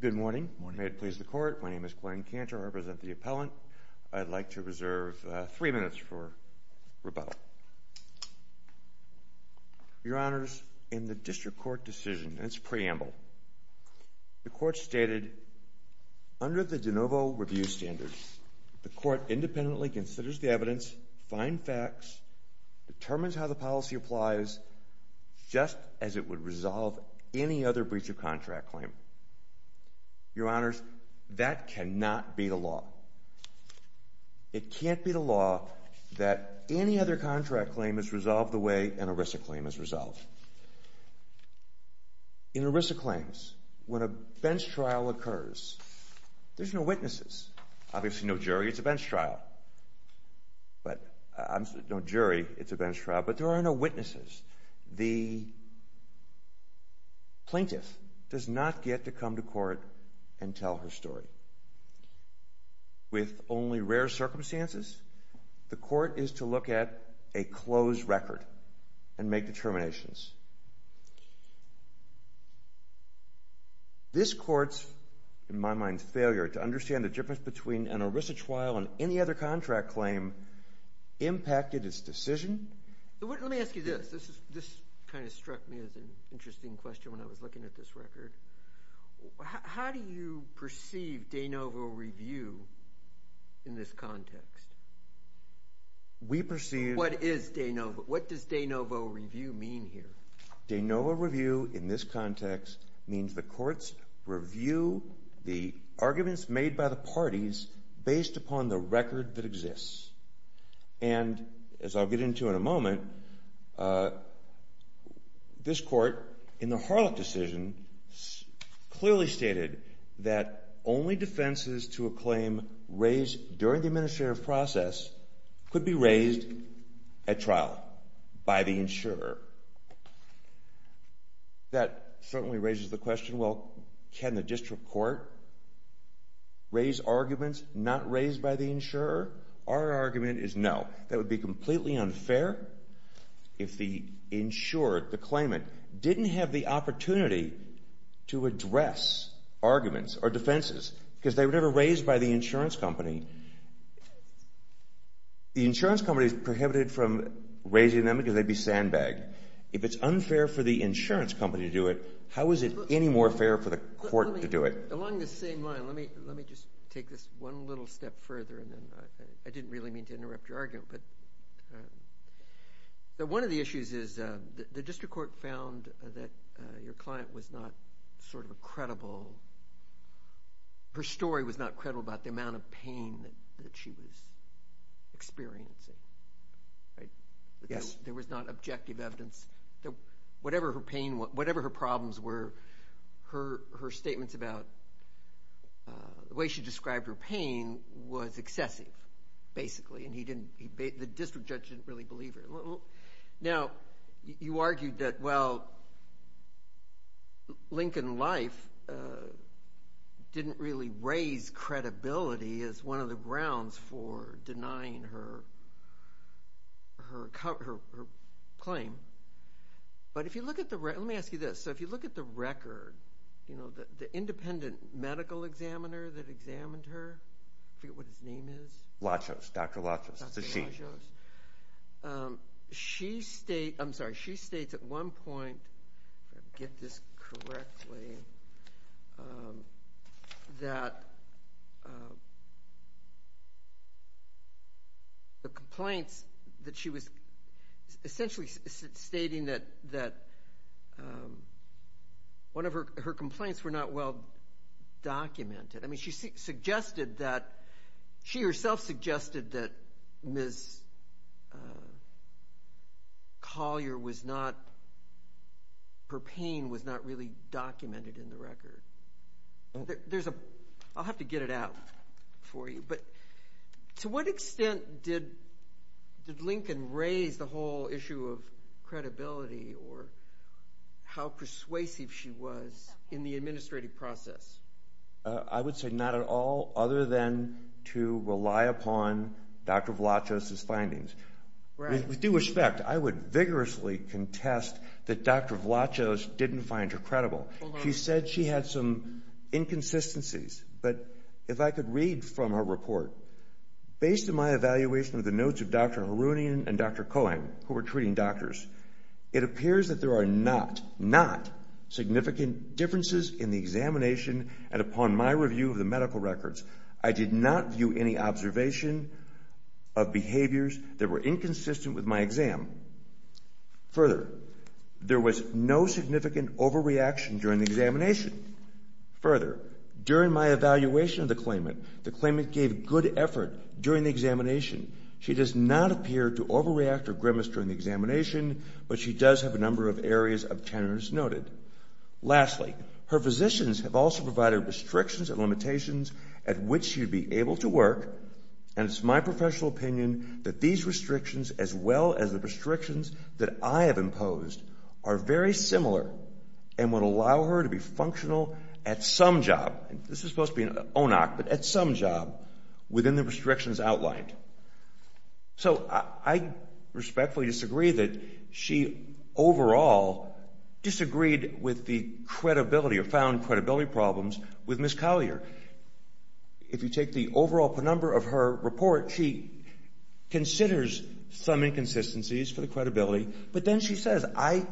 Good morning. May it please the court. My name is Glenn Cantor. I represent the appellant. I'd like to reserve three minutes for rebuttal. Your Honors, in the district court decision, its preamble, the court stated, under the de novo review standards, the court independently considers the evidence, find facts, determines how the policy applies, just as it would resolve any other breach of contract claim. Your Honors, that cannot be the law. It can't be the law that any other contract claim is resolved the way an ERISA claim is resolved. In ERISA claims, when a bench trial occurs, there's no witnesses. Obviously, no jury. It's a bench trial, but there are no witnesses. The plaintiff does not get to come to court and tell her story. With only rare circumstances, the court is to look at a closed record and make determinations. This court's, in my mind, failure to understand the difference between an ERISA trial and any other contract claim impacted its decision. Let me ask you this. This kind of struck me as an interesting question when I was looking at this record. How do you perceive de novo review in this context? We perceive... What is de novo? What does de novo review mean here? De novo review, in this context, means the courts review the case. As I'll get into in a moment, this court, in the Harlock decision, clearly stated that only defenses to a claim raised during the administrative process could be raised at trial by the insurer. That certainly raises the question, well, can the district court raise arguments not raised by the insurer? Our argument is no. That would be completely unfair if the insurer, the claimant, didn't have the opportunity to address arguments or defenses, because they were never raised by the insurance company. The insurance company is prohibited from raising them because they'd be sandbagged. If it's unfair for the insurance company to do it, how is it any more fair for the court to do it? Along the same line, let me just take this one little step further and then I didn't really mean to interrupt your argument, but one of the issues is the district court found that your client was not sort of a credible... Her story was not credible about the amount of pain that she was experiencing. Yes. There was not objective evidence. Whatever her pain was, whatever her problems were, her and he didn't... The district judge didn't really believe her. Now, you argued that, well, Lincoln Life didn't really raise credibility as one of the grounds for denying her claim, but if you look at the... Let me ask you this. If you look at the record, the independent medical examiner that examined her, I forget what his name is. Lachos, Dr. Lachos. It's a she. Dr. Lachos. She states... I'm sorry. She states at one point, if I get this correctly, that the complaints that she was essentially stating that one of her complaints were not well she herself suggested that Ms. Collier was not... Her pain was not really documented in the record. There's a... I'll have to get it out for you, but to what extent did Lincoln raise the whole issue of credibility or how persuasive she was in the administrative process? I would say not at all other than to rely upon Dr. Lachos' findings. With due respect, I would vigorously contest that Dr. Lachos didn't find her credible. She said she had some inconsistencies, but if I could read from her report, based on my evaluation of the notes of Dr. Harounian and Dr. Cohen, who were treating doctors, it appears that there are not, not significant differences in the examination, and upon my review of the medical records, I did not view any observation of behaviors that were inconsistent with my exam. Further, there was no significant overreaction during the examination. Further, during my evaluation of the claimant, the claimant gave good effort during the examination. She does not appear to overreact or grimace during the examination, but she does have a number of areas of tenors noted. Lastly, her physicians have also provided restrictions and limitations at which she'd be able to work, and it's my professional opinion that these restrictions, as well as the restrictions that I have imposed, are very similar and would allow her to be functional at some job. This is supposed to be an ONOC, but at some job, within the restrictions outlined. So, I respectfully disagree that she overall disagreed with the credibility, or found credibility problems, with Ms. Collier. If you take the overall number of her report, she considers some inconsistencies for the credibility, but then she says, I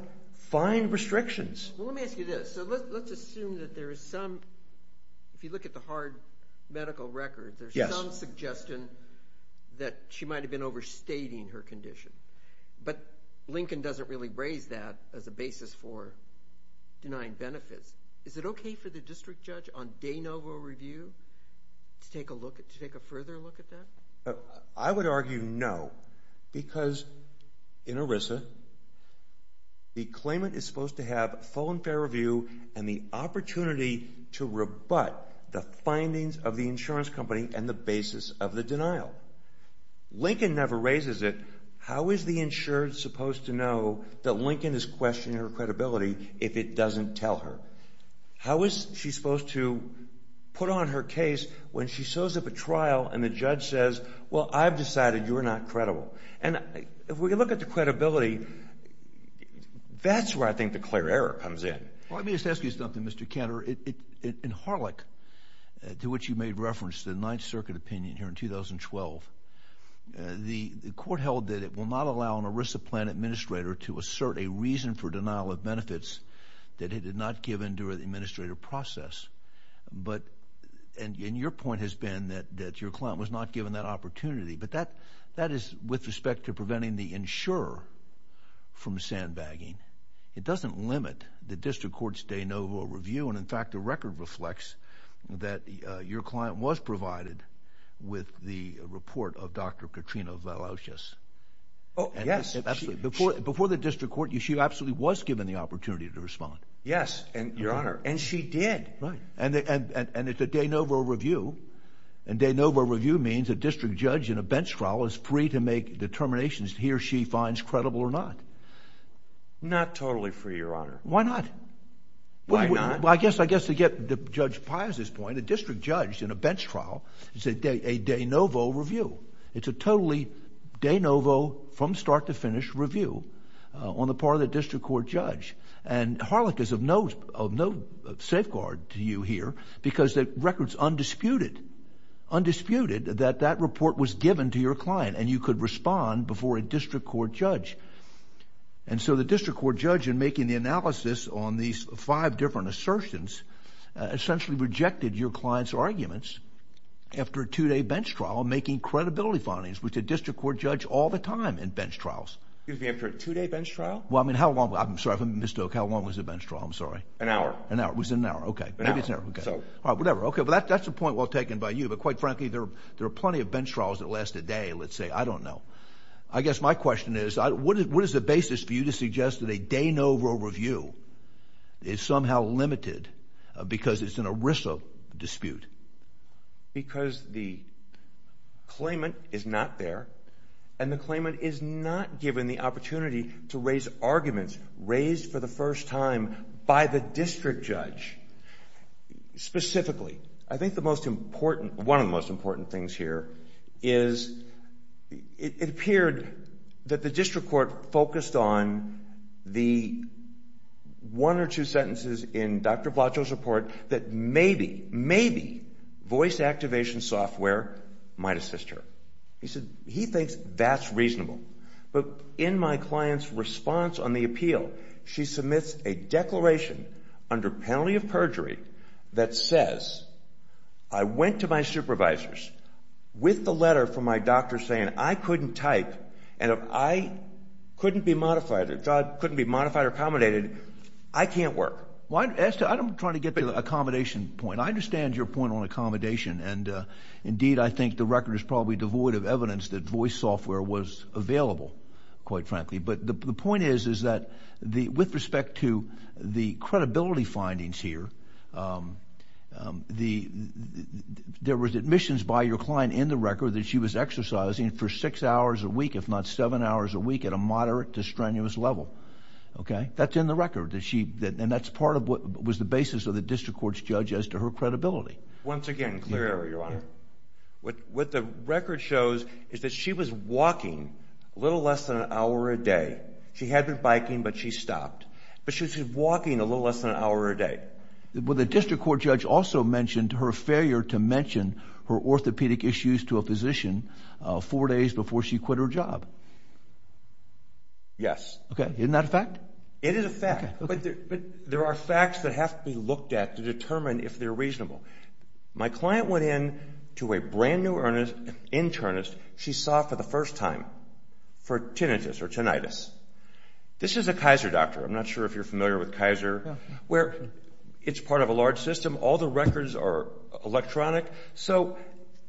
find restrictions. Well, let me ask you this. So, let's assume that there is some, if you look at the hard medical record, there's some suggestion that she might have been overstating her condition, but Lincoln doesn't really raise that as a basis for denying benefits. Is it okay for the district judge on de novo review to take a look at, to take a further look at that? I would argue no, because in ERISA, the full and fair review and the opportunity to rebut the findings of the insurance company and the basis of the denial. Lincoln never raises it. How is the insured supposed to know that Lincoln is questioning her credibility if it doesn't tell her? How is she supposed to put on her case when she shows up at trial and the judge says, well, I've decided you're not credible. And if we think the clear error comes in. Let me just ask you something, Mr. Cantor. In Harlech, to which you made reference, the Ninth Circuit opinion here in 2012, the court held that it will not allow an ERISA plan administrator to assert a reason for denial of benefits that it had not given during the administrative process. But, and your point has been that your client was not given that opportunity, but that is with respect to preventing the insurer from sandbagging, it doesn't limit the district court's de novo review. And in fact, the record reflects that your client was provided with the report of Dr. Katrina Velauskas. Oh, yes. Before the district court, she absolutely was given the opportunity to respond. Yes, and your honor, and she did. And it's a de novo review, and de novo review means a district judge in a bench trial is free to make determinations he or she finds credible or not. Not totally, for your honor. Why not? Well, I guess to get Judge Pius's point, a district judge in a bench trial, it's a de novo review. It's a totally de novo, from start to finish review on the part of the district court judge. And Harlech is of no safeguard to you here, because the record's undisputed, undisputed that that report was given to your client, and you could respond before a district court judge. And so the district court judge, in making the analysis on these five different assertions, essentially rejected your client's arguments after a two-day bench trial, making credibility findings, which a district court judge all the time in bench trials. Excuse me, after a two-day bench trial? Well, I mean, how long? I'm sorry if I'm mistook. How long was the bench trial? I'm sorry. An hour. An hour. It was an hour. Okay. Maybe it's an hour. Whatever. Okay, but that's a point well taken by you, but quite frankly, there are I guess my question is, what is the basis for you to suggest that a de novo review is somehow limited because it's an ERISA dispute? Because the claimant is not there, and the claimant is not given the opportunity to raise arguments raised for the first time by the district judge, specifically. I think one of the most important things here is it appeared that the district court focused on the one or two sentences in Dr. Blacho's report that maybe, maybe voice activation software might assist her. He said he thinks that's reasonable. But in my client's response on the appeal, she submits a I went to my supervisors with the letter from my doctor saying I couldn't type, and if I couldn't be modified, if I couldn't be modified or accommodated, I can't work. Well, I'm trying to get to the accommodation point. I understand your point on accommodation, and indeed, I think the record is probably devoid of evidence that voice software was available, quite frankly. But the point is, is that with respect to the credibility findings here, there was admissions by your client in the record that she was exercising for six hours a week, if not seven hours a week, at a moderate to strenuous level, okay? That's in the record, and that's part of what was the basis of the district court's judge as to her credibility. Once again, clear, Your Honor. What the record shows is that she was walking a little less than an hour a day. She had been biking, but she stopped. But she was walking a little less than an hour a day. Well, the district court judge also mentioned her failure to mention her orthopedic issues to a physician four days before she quit her job. Yes. Okay, isn't that a fact? It is a fact, but there are facts that have to be looked at to determine if they're reasonable. My client went in to a brand new internist she saw for the first time for tinnitus or tinnitus. This is a Kaiser doctor. I'm not sure if you're familiar with Kaiser, where it's part of a large system. All the records are electronic. So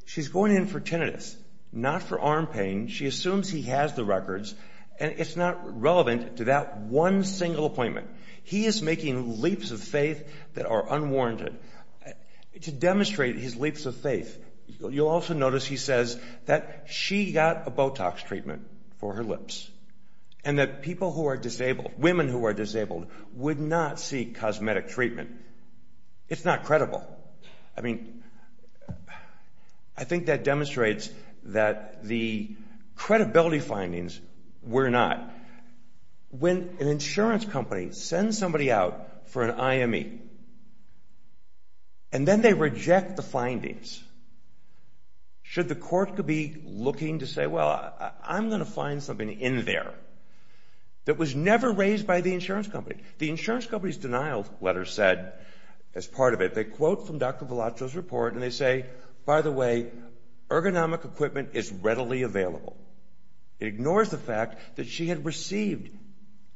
she's going in for tinnitus, not for arm pain. She assumes he has the records, and it's not relevant to that one single appointment. He is making leaps of faith that are reasonable. Notice he says that she got a Botox treatment for her lips, and that people who are disabled, women who are disabled, would not seek cosmetic treatment. It's not credible. I mean, I think that demonstrates that the credibility findings were not. When an insurance company sends somebody out for tinnitus, should the court be looking to say, well, I'm going to find something in there that was never raised by the insurance company? The insurance company's denial letter said, as part of it, they quote from Dr. Vellaccio's report, and they say, by the way, ergonomic equipment is readily available. It ignores the fact that she had received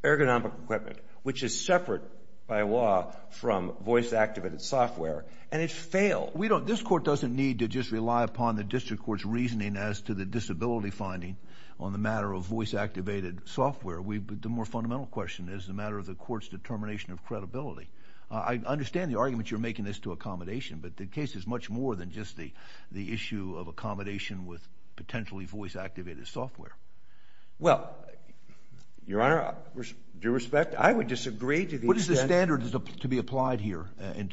ergonomic equipment, which is separate by law from voice-activated software, and it failed. We don't, this court doesn't need to just rely upon the district court's reasoning as to the disability finding on the matter of voice-activated software. The more fundamental question is the matter of the court's determination of credibility. I understand the argument you're making as to accommodation, but the case is much more than just the issue of accommodation with potentially voice-activated software. Well, Your Honor, due respect, I would disagree to the extent... What is the standard to be applied here, in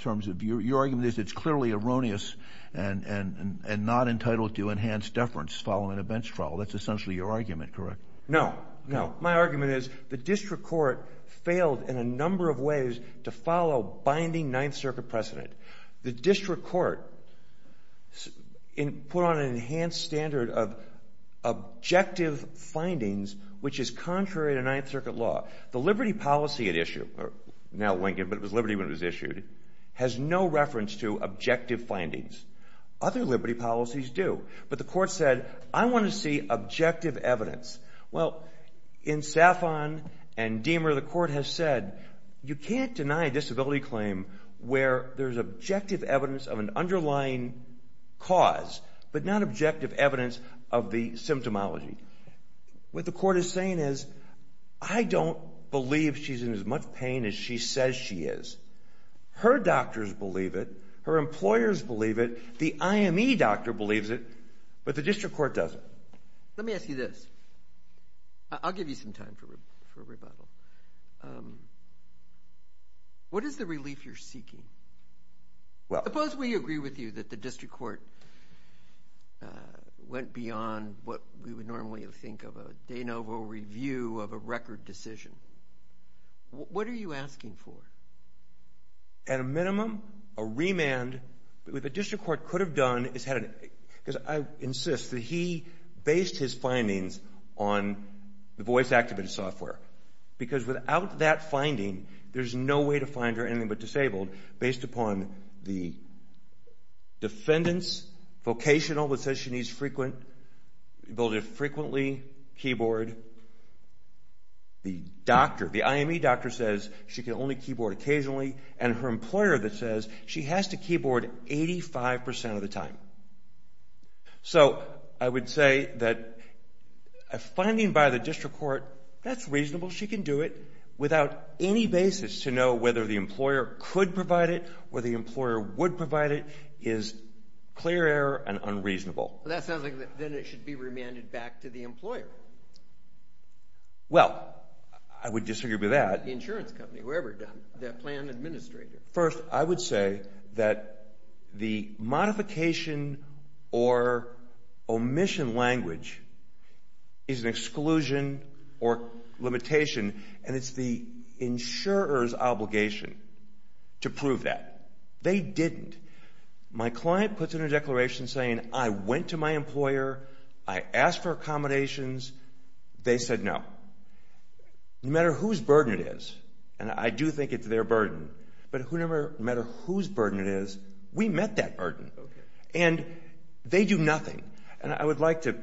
not entitled to enhanced deference following a bench trial? That's essentially your argument, correct? No, no. My argument is the district court failed in a number of ways to follow binding Ninth Circuit precedent. The district court put on an enhanced standard of objective findings, which is contrary to Ninth Circuit law. The liberty policy at issue, now Lincoln, but it was liberty when it was issued, has no reference to objective findings. Other liberty policies do, but the court said, I want to see objective evidence. Well, in Safon and Deamer, the court has said, you can't deny a disability claim where there's objective evidence of an underlying cause, but not objective evidence of the symptomology. What the court is saying is, I don't believe she's in as much pain as she says she is. Her doctors believe it, her employers believe it, the IME doctor believes it, but the district court doesn't. Let me ask you this. I'll give you some time for a rebuttal. What is the relief you're seeking? Well, suppose we agree with you that the district court went beyond what we would normally think of a de novo review of a record decision. What are you court could have done is had, because I insist that he based his findings on the voice activated software, because without that finding, there's no way to find her anything but disabled, based upon the defendant's vocational that says she needs frequent, ability to frequently keyboard, the doctor, the IME doctor says she can only keyboard occasionally, and her employer that says she has to keyboard 5% of the time. So, I would say that a finding by the district court, that's reasonable, she can do it, without any basis to know whether the employer could provide it, or the employer would provide it, is clear error and unreasonable. That sounds like then it should be remanded back to the employer. Well, I would disagree with that. The insurance company, whoever done it, the plan administrator. First, I would say that the modification or omission language is an exclusion or limitation, and it's the insurer's obligation to prove that. They didn't. My client puts in a declaration saying, I went to my employer, I asked for accommodations, they said no. No matter whose burden it is, and I do think it's their burden, but no matter whose burden it is, I would say no. We met that burden, and they do nothing. And I would like to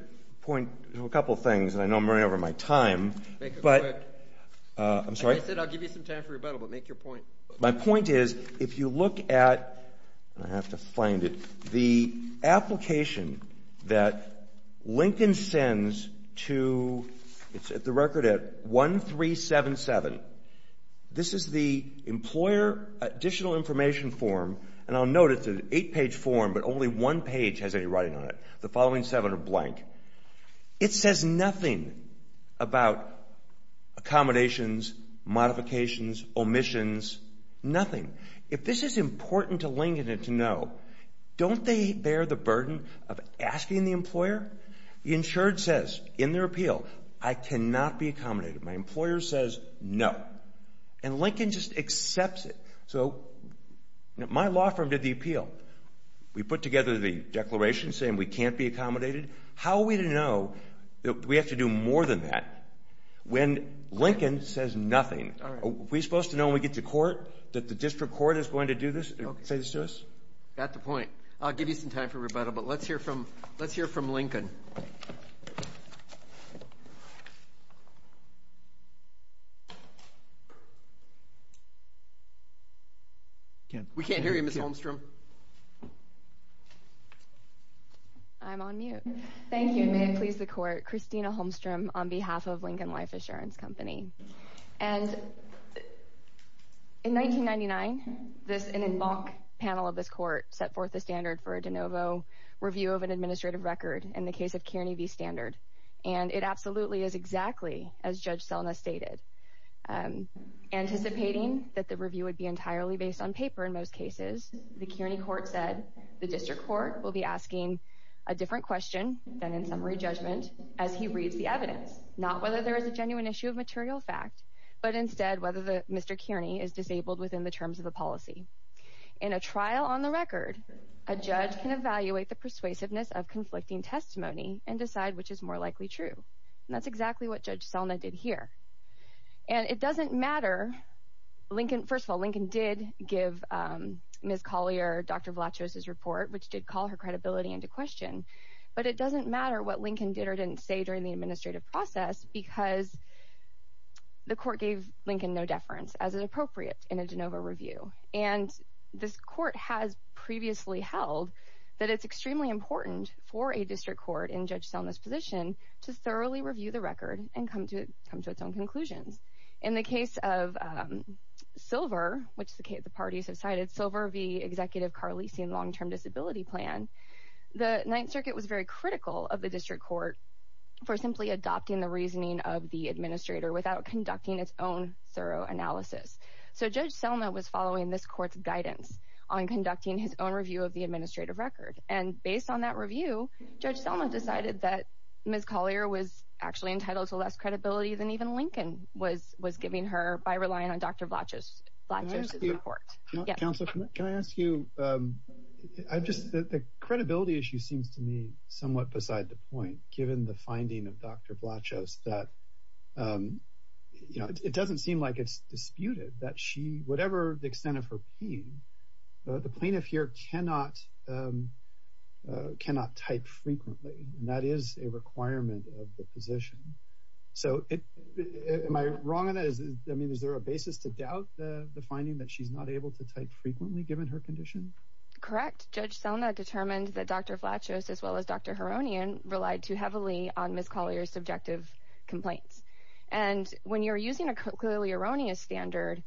point to a couple of things, and I know I'm running over my time, but, I'm sorry. I said I'll give you some time for rebuttal, but make your point. My point is, if you look at, I have to find it, the application that Lincoln sends to, it's at the record at 1377. This is the employer additional information form, and I'll note it's an eight-page form, but only one page has any writing on it. The following seven are blank. It says nothing about accommodations, modifications, omissions, nothing. If this is important to Lincoln to know, don't they bear the burden of asking the employer? The insured says, in their appeal, I cannot be accommodated. My employer says no. And Lincoln just accepts it. So, my law firm did the appeal. We put together the declaration saying we can't be accommodated. How are we to know that we have to do more than that, when Lincoln says nothing? Are we supposed to know when we get to court that the district court is going to do this, say this to us? Got the point. I'll give you some time for rebuttal, but let's hear from Lincoln. We can't hear you, Ms. Holmstrom. I'm on mute. Thank you, and may it please the court, Christina Holmstrom on behalf of Lincoln Life Assurance Company. And in 1999, an en banc panel of this court set forth the standard for a de novo review of an administrative record in the case of Kearney v. Standard, and it absolutely is exactly as Judge Selna stated. Anticipating that the review would be entirely based on paper in most cases, the case is entirely based on paper. The Kearney court said the district court will be asking a different question than in summary judgment as he reads the evidence, not whether there is a genuine issue of material fact, but instead whether Mr. Kearney is disabled within the terms of the policy. In a trial on the record, a judge can evaluate the persuasiveness of conflicting testimony and decide which is more likely true. And that's exactly what Judge Selna did here. And it doesn't matter – first of all, Lincoln did give Ms. Collier, Dr. Vlachos's report, which did call her credibility into question, but it doesn't matter what Lincoln did or didn't say during the administrative process because the court gave Lincoln no deference as is appropriate in a de novo review. And this court has previously held that it's extremely important for a district court in Judge Selna's position to thoroughly review the record and come to its own conclusions. In the case of Silver, which the parties have cited, Silver v. Executive Carlesian Long-Term Disability Plan, the Ninth Circuit was very critical of the district court for simply adopting the reasoning of the administrator without conducting its own thorough analysis. So Judge Selna was following this court's guidance on conducting his own review of the administrative record. And based on that review, Judge Selna decided that Ms. Collier was actually entitled to less credibility than even Lincoln was giving her by relying on Dr. Vlachos's report. – Counselor, can I ask you – I just – the credibility issue seems to me somewhat beside the point, given the finding of Dr. Vlachos, that, you know, it doesn't seem like it's disputed that she – whatever the extent of her pain, the plaintiff here cannot type frequently. And that is a requirement of the position. So am I wrong in this? I mean, is there a basis to doubt the finding that she's not able to type frequently, given her condition? Correct. Judge Selna determined that Dr. Vlachos, as well as Dr. Heronian, relied too heavily on Ms. Collier's subjective complaints. And when you're using a colloquially erroneous standard,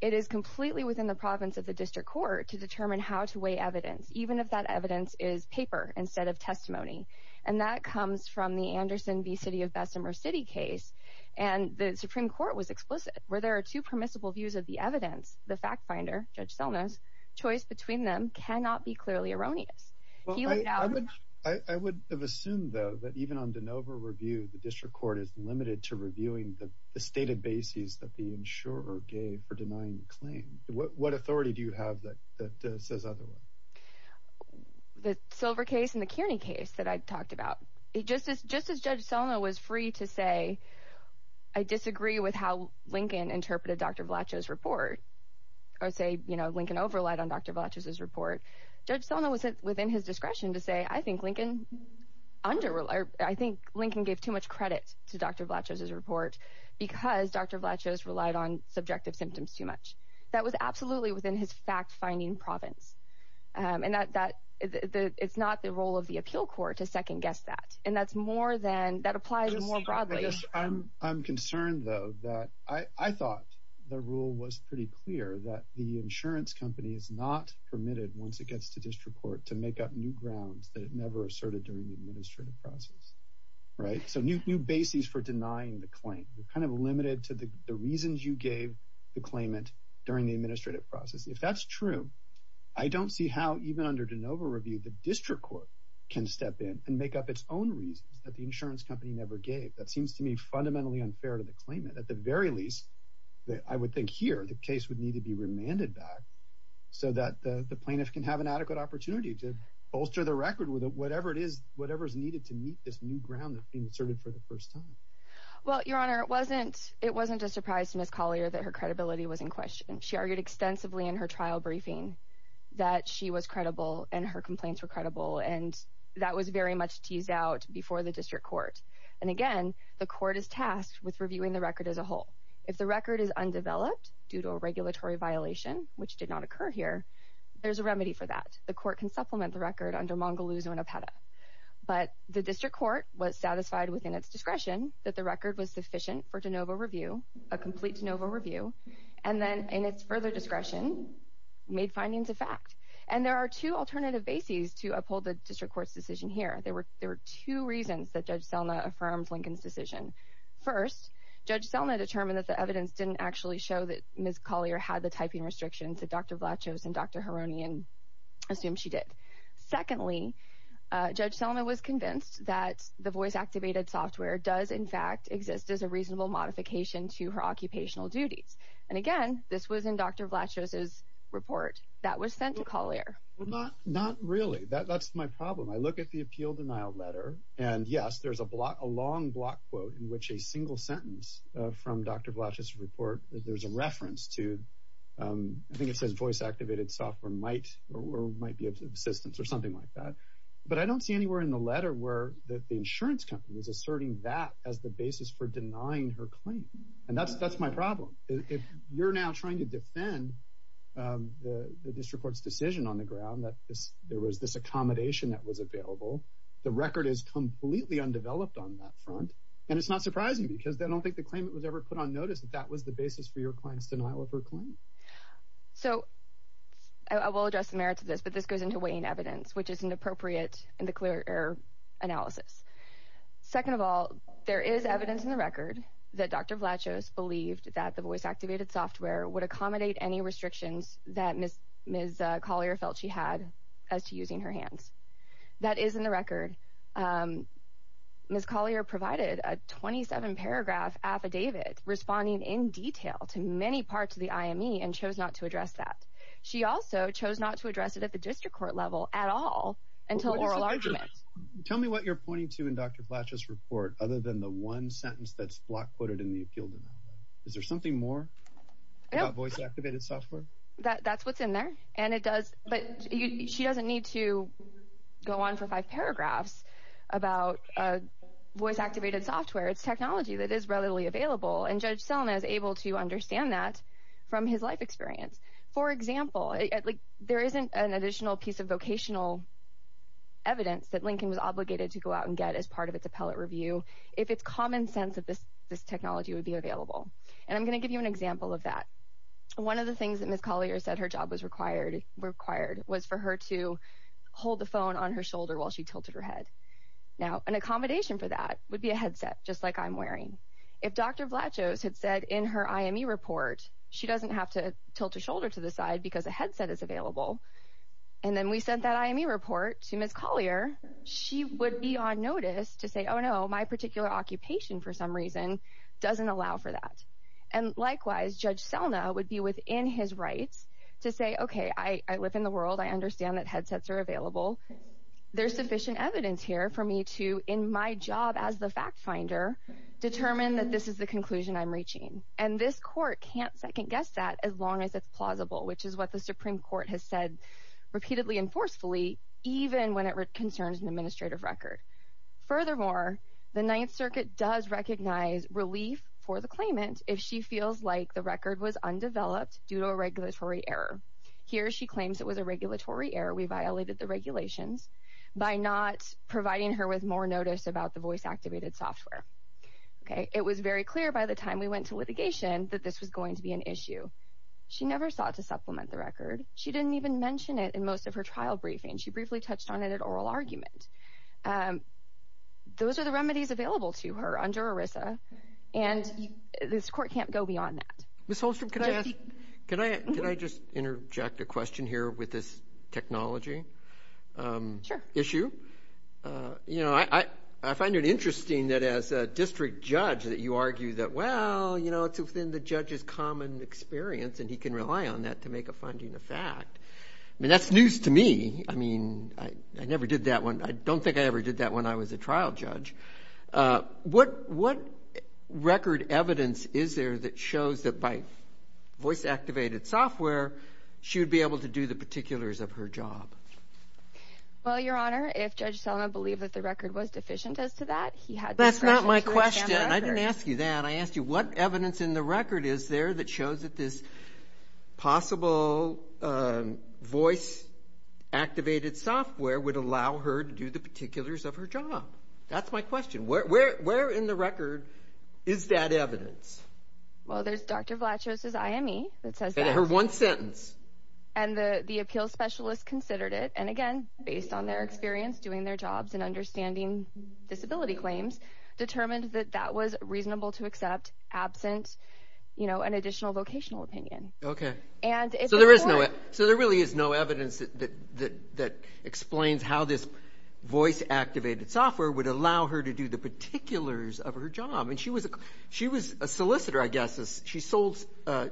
it is completely within the province of the district court to determine how to weigh evidence, even if that evidence is paper instead of testimony. And that comes from the Anderson v. City of Bessemer City case, and the Supreme Court was explicit, where there are two permissible views of the evidence. The fact finder, Judge Selna's, choice between them cannot be clearly erroneous. I would have assumed, though, that even on de novo review, the district court is limited to reviewing the stated bases that the insurer gave for denying the claim. What authority do you have that says otherwise? The Silver case and the Kearney case that I talked about, just as Judge Selna was free to say, I disagree with how Lincoln interpreted Dr. Vlachos' report, or say Lincoln over relied on Dr. Vlachos' report, Judge Selna was within his discretion to say, I think Lincoln gave too much credit to Dr. Vlachos' report because Dr. Vlachos relied on subjective symptoms too much. That was absolutely within his fact-finding province, and it's not the role of the appeal court to second-guess that, and that applies more broadly. Yes, I'm concerned, though, that I thought the rule was pretty clear that the insurance company is not permitted, once it gets to district court, to make up new grounds that it never asserted during the administrative process. So new bases for denying the claim. You're kind of limited to the reasons you gave the claimant during the administrative process. If that's true, I don't see how, even under de novo review, the district court can step in and make up its own reasons that the insurance company never gave. That seems to me fundamentally unfair to the claimant. At the very least, I would think here, the case would need to be remanded back so that the plaintiff can have an adequate opportunity to bolster the record with whatever is needed to meet this new ground that's been asserted for the first time. Well, Your Honor, it wasn't just a surprise to Ms. Collier that her credibility was in question. She argued extensively in her trial briefing that she was credible and her complaints were credible, and that was very much teased out before the district court. And again, the court is tasked with reviewing the record as a whole. If the record is undeveloped due to a regulatory violation, which did not occur here, there's a remedy for that. The court can supplement the record under mongolozo and apeta. But the district court was satisfied within its discretion that the record was sufficient for de novo review, a complete de novo review, and then in its further discretion, made findings a fact. And there are two alternative bases to uphold the district court's decision here. There were two reasons that Judge Selna affirmed Lincoln's decision. First, Judge Selna determined that the evidence didn't actually show that Ms. Collier had the typing restrictions that Dr. Vlachos and Dr. Hironian assumed she did. Secondly, Judge Selna was convinced that the voice-activated software does, in fact, exist as a reasonable modification to her occupational duties. And again, this was in Dr. Vlachos's report that was sent to Collier. Not really. That's my problem. I look at the appeal denial letter, and yes, there's a long block quote in which a single sentence from Dr. Vlachos's report, there's a reference to, I think it says voice-activated software might or might be of assistance or something like that. But I don't see anywhere in the letter where the insurance company is asserting that as the basis for denying her claim. And that's my problem. If you're now trying to defend the district court's decision on the ground that there was this accommodation that was available, the record is completely undeveloped on that front. And it's not surprising because I don't think the claimant was ever put on notice that that was the basis for your client's denial of her claim. So I will address the merits of this, but this goes into weighing evidence, which isn't appropriate in the clear error analysis. Second of all, there is evidence in the record that Dr. Vlachos believed that the voice-activated software would accommodate any restrictions that Ms. Collier felt she had as to using her hands. That is in the record. Ms. Collier provided a 27-paragraph affidavit responding in detail to many parts of the IME and chose not to address that. She also chose not to address it at the district court level at all until oral arguments. Tell me what you're pointing to in Dr. Vlachos' report other than the one sentence that's block-quoted in the appeal. Is there something more about voice-activated software? That's what's in there, and it does. But she doesn't need to go on for five paragraphs about voice-activated software. It's technology that is readily available, and Judge Selma is able to understand that from his life experience. For example, there isn't an additional piece of vocational evidence that Lincoln was obligated to go out and get as part of its appellate review if it's common sense that this technology would be available. And I'm going to give you an example of that. One of the things that Ms. Collier said her job was required was for her to hold the phone on her shoulder while she tilted her head. Now, an accommodation for that would be a headset, just like I'm wearing. If Dr. Vlachos had said in her IME report she doesn't have to tilt her shoulder to the side because a headset is available, and then we sent that IME report to Ms. Collier, she would be on notice to say, oh, no, my particular occupation for some reason doesn't allow for that. And likewise, Judge Selma would be within his rights to say, okay, I live in the world. I understand that headsets are available. There's sufficient evidence here for me to, in my job as the fact finder, determine that this is the conclusion I'm reaching. And this court can't second-guess that as long as it's plausible, which is what the Supreme Court has said repeatedly and forcefully, even when it concerns an administrative record. Furthermore, the Ninth Circuit does recognize relief for the claimant if she feels like the record was undeveloped due to a regulatory error. Here she claims it was a regulatory error. We violated the regulations by not providing her with more notice about the voice-activated software. It was very clear by the time we went to litigation that this was going to be an issue. She never sought to supplement the record. She didn't even mention it in most of her trial briefing. She briefly touched on it at oral argument. Those are the remedies available to her under ERISA, and this court can't go beyond that. Ms. Holstrom, can I just interject a question here with this technology issue? Sure. You know, I find it interesting that as a district judge that you argue that, well, you know, it's within the judge's common experience, and he can rely on that to make a finding a fact. I mean, that's news to me. I mean, I never did that one. I don't think I ever did that when I was a trial judge. What record evidence is there that shows that by voice-activated software, she would be able to do the particulars of her job? Well, Your Honor, if Judge Selma believed that the record was deficient as to that, he had discretion to examine the record. That's not my question. I didn't ask you that. I asked you what evidence in the record is there that shows that this possible voice-activated software would allow her to do the particulars of her job. That's my question. Where in the record is that evidence? Well, there's Dr. Vlachos's IME that says that. And I heard one sentence. And the appeals specialist considered it, and again, based on their experience doing their jobs and understanding disability claims, determined that that was reasonable to accept absent, you know, an additional vocational opinion. Okay. So there really is no evidence that explains how this voice-activated software would allow her to do the particulars of her job. And she was a solicitor, I guess. She sold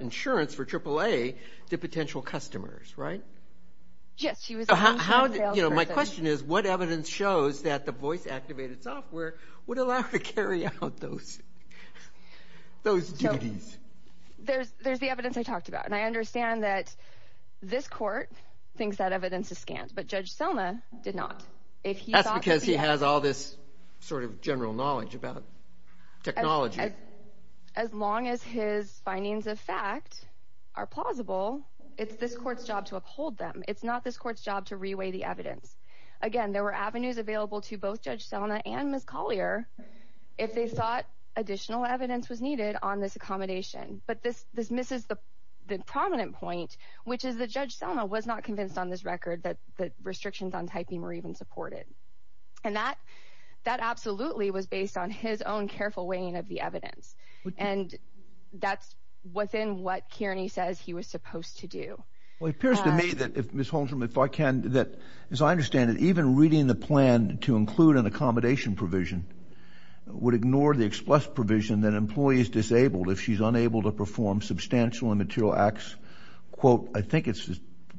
insurance for AAA to potential customers, right? Yes. My question is, what evidence shows that the voice-activated software would allow her to carry out those duties? There's the evidence I talked about, and I understand that this court thinks that evidence is scant, but Judge Selma did not. That's because he has all this sort of general knowledge about technology. As long as his findings of fact are plausible, it's this court's job to uphold them. It's not this court's job to reweigh the evidence. Again, there were avenues available to both Judge Selma and Ms. Collier if they thought additional evidence was needed on this accommodation. But this misses the prominent point, which is that Judge Selma was not convinced on this record that the restrictions on typing were even supported. And that absolutely was based on his own careful weighing of the evidence. And that's within what Kearney says he was supposed to do. Well, it appears to me that, Ms. Holmstrom, if I can, that as I understand it, even reading the plan to include an accommodation provision would ignore the express provision that an employee is disabled if she's unable to perform substantial and material acts, quote, I think it's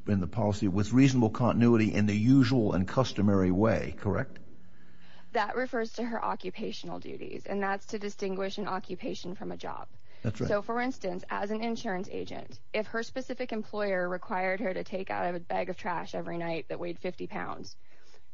in the policy, with reasonable continuity in the usual and customary way, correct? That refers to her occupational duties, and that's to distinguish an occupation from a job. That's right. So, for instance, as an insurance agent, if her specific employer required her to take out a bag of trash every night that weighed 50 pounds,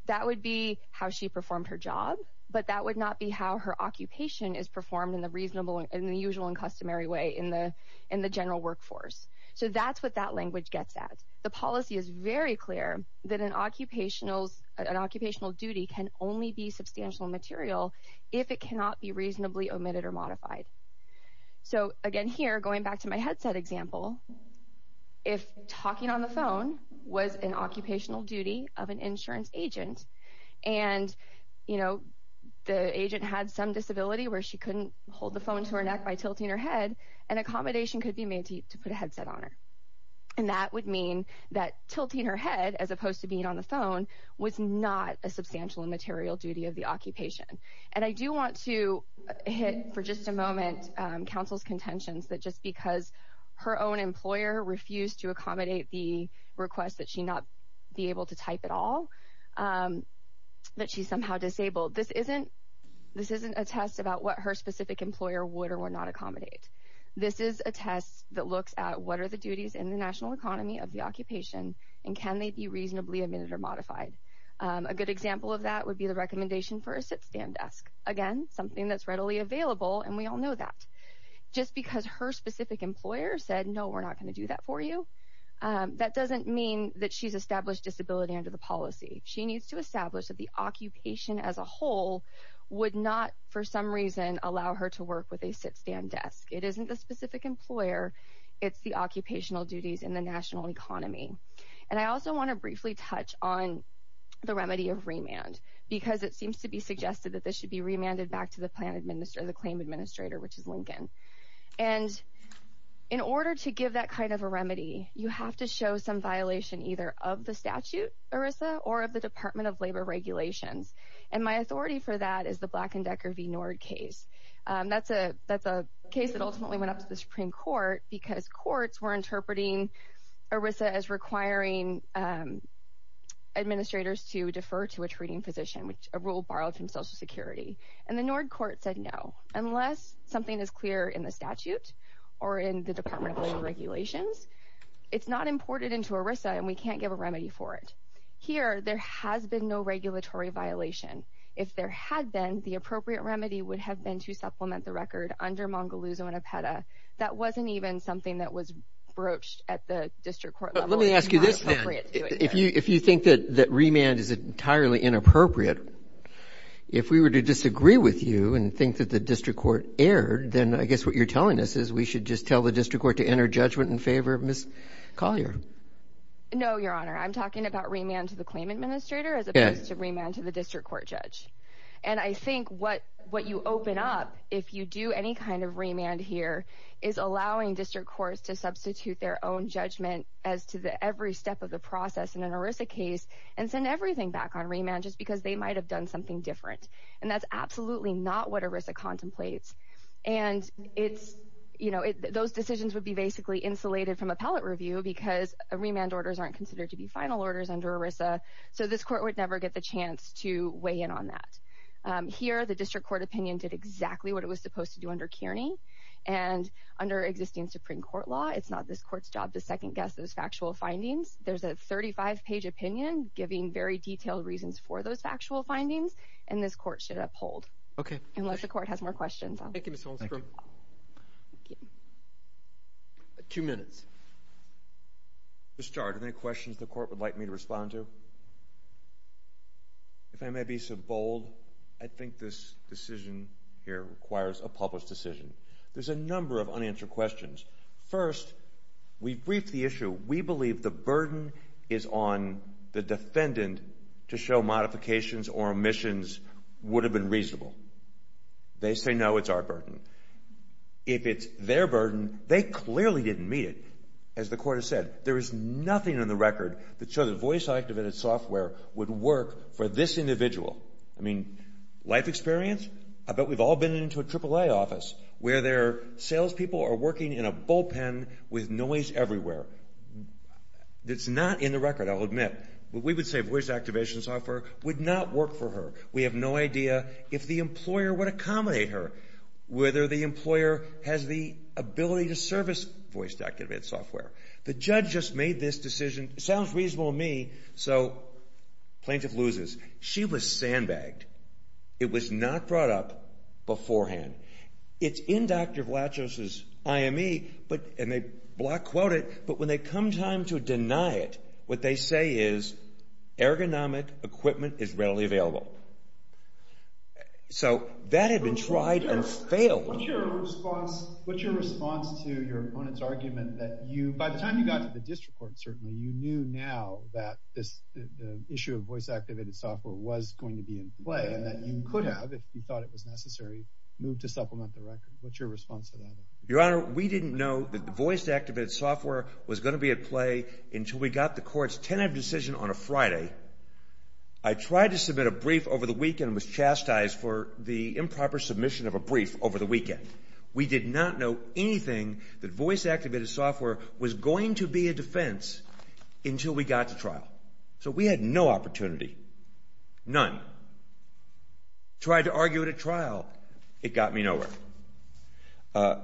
that would be how she performed her job, but that would not be how her occupation is performed in the usual and customary way in the general workforce. So that's what that language gets at. The policy is very clear that an occupational duty can only be substantial and material if it cannot be reasonably omitted or modified. So, again, here, going back to my headset example, if talking on the phone was an occupational duty of an insurance agent and, you know, the agent had some disability where she couldn't hold the phone to her neck by tilting her head, an accommodation could be made to put a headset on her. And that would mean that tilting her head as opposed to being on the phone was not a substantial and material duty of the occupation. And I do want to hit for just a moment counsel's contentions that just because her own employer refused to accommodate the request that she not be able to type at all, that she's somehow disabled. This isn't a test about what her specific employer would or would not accommodate. This is a test that looks at what are the duties in the national economy of the occupation and can they be reasonably omitted or modified. A good example of that would be the recommendation for a sit-stand desk. Again, something that's readily available and we all know that. Just because her specific employer said, no, we're not going to do that for you, that doesn't mean that she's established disability under the policy. She needs to establish that the occupation as a whole would not, for some reason, allow her to work with a sit-stand desk. It isn't the specific employer. It's the occupational duties in the national economy. And I also want to briefly touch on the remedy of remand because it seems to be suggested that this should be remanded back to the claim administrator, which is Lincoln. And in order to give that kind of a remedy, you have to show some violation either of the statute, ERISA, or of the Department of Labor regulations. And my authority for that is the Black and Decker v. Nord case. That's a case that ultimately went up to the Supreme Court because courts were interpreting ERISA as requiring administrators to defer to a treating physician, a rule borrowed from Social Security. And the Nord court said, no, unless something is clear in the statute or in the Department of Labor regulations, it's not imported into ERISA and we can't give a remedy for it. Here, there has been no regulatory violation. If there had been, the appropriate remedy would have been to supplement the record under Mongaluzo and Apeta. That wasn't even something that was broached at the district court level. Let me ask you this, then. If you think that remand is entirely inappropriate, if we were to disagree with you and think that the district court erred, then I guess what you're telling us is we should just tell the district court to enter judgment in favor of Ms. Collier. No, Your Honor. I'm talking about remand to the claim administrator as opposed to remand to the district court judge. And I think what you open up, if you do any kind of remand here, is allowing district courts to substitute their own judgment as to every step of the process in an ERISA case and send everything back on remand just because they might have done something different. And that's absolutely not what ERISA contemplates. And those decisions would be basically insulated from appellate review because remand orders aren't considered to be final orders under ERISA, so this court would never get the chance to weigh in on that. Here, the district court opinion did exactly what it was supposed to do under Kearney. And under existing Supreme Court law, it's not this court's job to second-guess those factual findings. There's a 35-page opinion giving very detailed reasons for those factual findings, and this court should uphold. Okay. Unless the court has more questions. Thank you, Ms. Holstrom. Two minutes. Mr. Starr, do you have any questions the court would like me to respond to? If I may be so bold, I think this decision here requires a published decision. There's a number of unanswered questions. First, we've briefed the issue. We believe the burden is on the defendant to show modifications or omissions would have been reasonable. They say, no, it's our burden. If it's their burden, they clearly didn't meet it. As the court has said, there is nothing in the record that shows a voice-activated software would work for this individual. I mean, life experience? I bet we've all been into a AAA office where their salespeople are working in a bullpen with noise everywhere. It's not in the record, I'll admit. We would say voice-activated software would not work for her. We have no idea if the employer would accommodate her, whether the employer has the ability to service voice-activated software. The judge just made this decision. It sounds reasonable to me, so plaintiff loses. She was sandbagged. It was not brought up beforehand. It's in Dr. Vlachos' IME, and they block-quote it, but when they come time to deny it, what they say is ergonomic equipment is readily available. So that had been tried and failed. What's your response to your opponent's argument that you, by the time you got to the district court, certainly, you knew now that this issue of voice-activated software was going to be in play and that you could have, if you thought it was necessary, moved to supplement the record? What's your response to that? Your Honor, we didn't know that the voice-activated software was going to be at play until we got the court's tentative decision on a Friday. I tried to submit a brief over the weekend and was chastised for the improper submission of a brief over the weekend. We did not know anything that voice-activated software was going to be a defense until we got to trial. So we had no opportunity, none. Tried to argue it at trial. It got me nowhere. As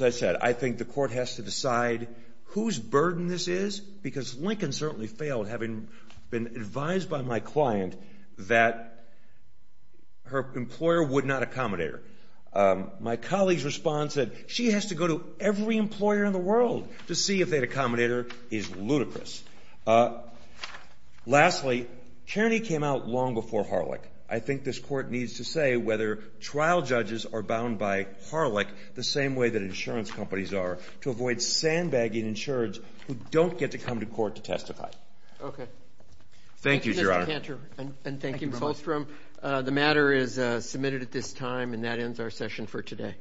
I said, I think the court has to decide whose burden this is, because Lincoln certainly failed, having been advised by my client that her employer would not accommodate her. My colleague's response said, she has to go to every employer in the world to see if they'd accommodate her is ludicrous. Lastly, Kearney came out long before Harlech. I think this court needs to say whether trial judges are bound by Harlech the same way that insurance companies are to avoid sandbagging insurance who don't get to come to court to testify. Okay. Thank you, Your Honor. Thank you, Mr. Cantor, and thank you, Ms. Holstrom. The matter is submitted at this time, and that ends our session for today. All rise. Court is adjourned.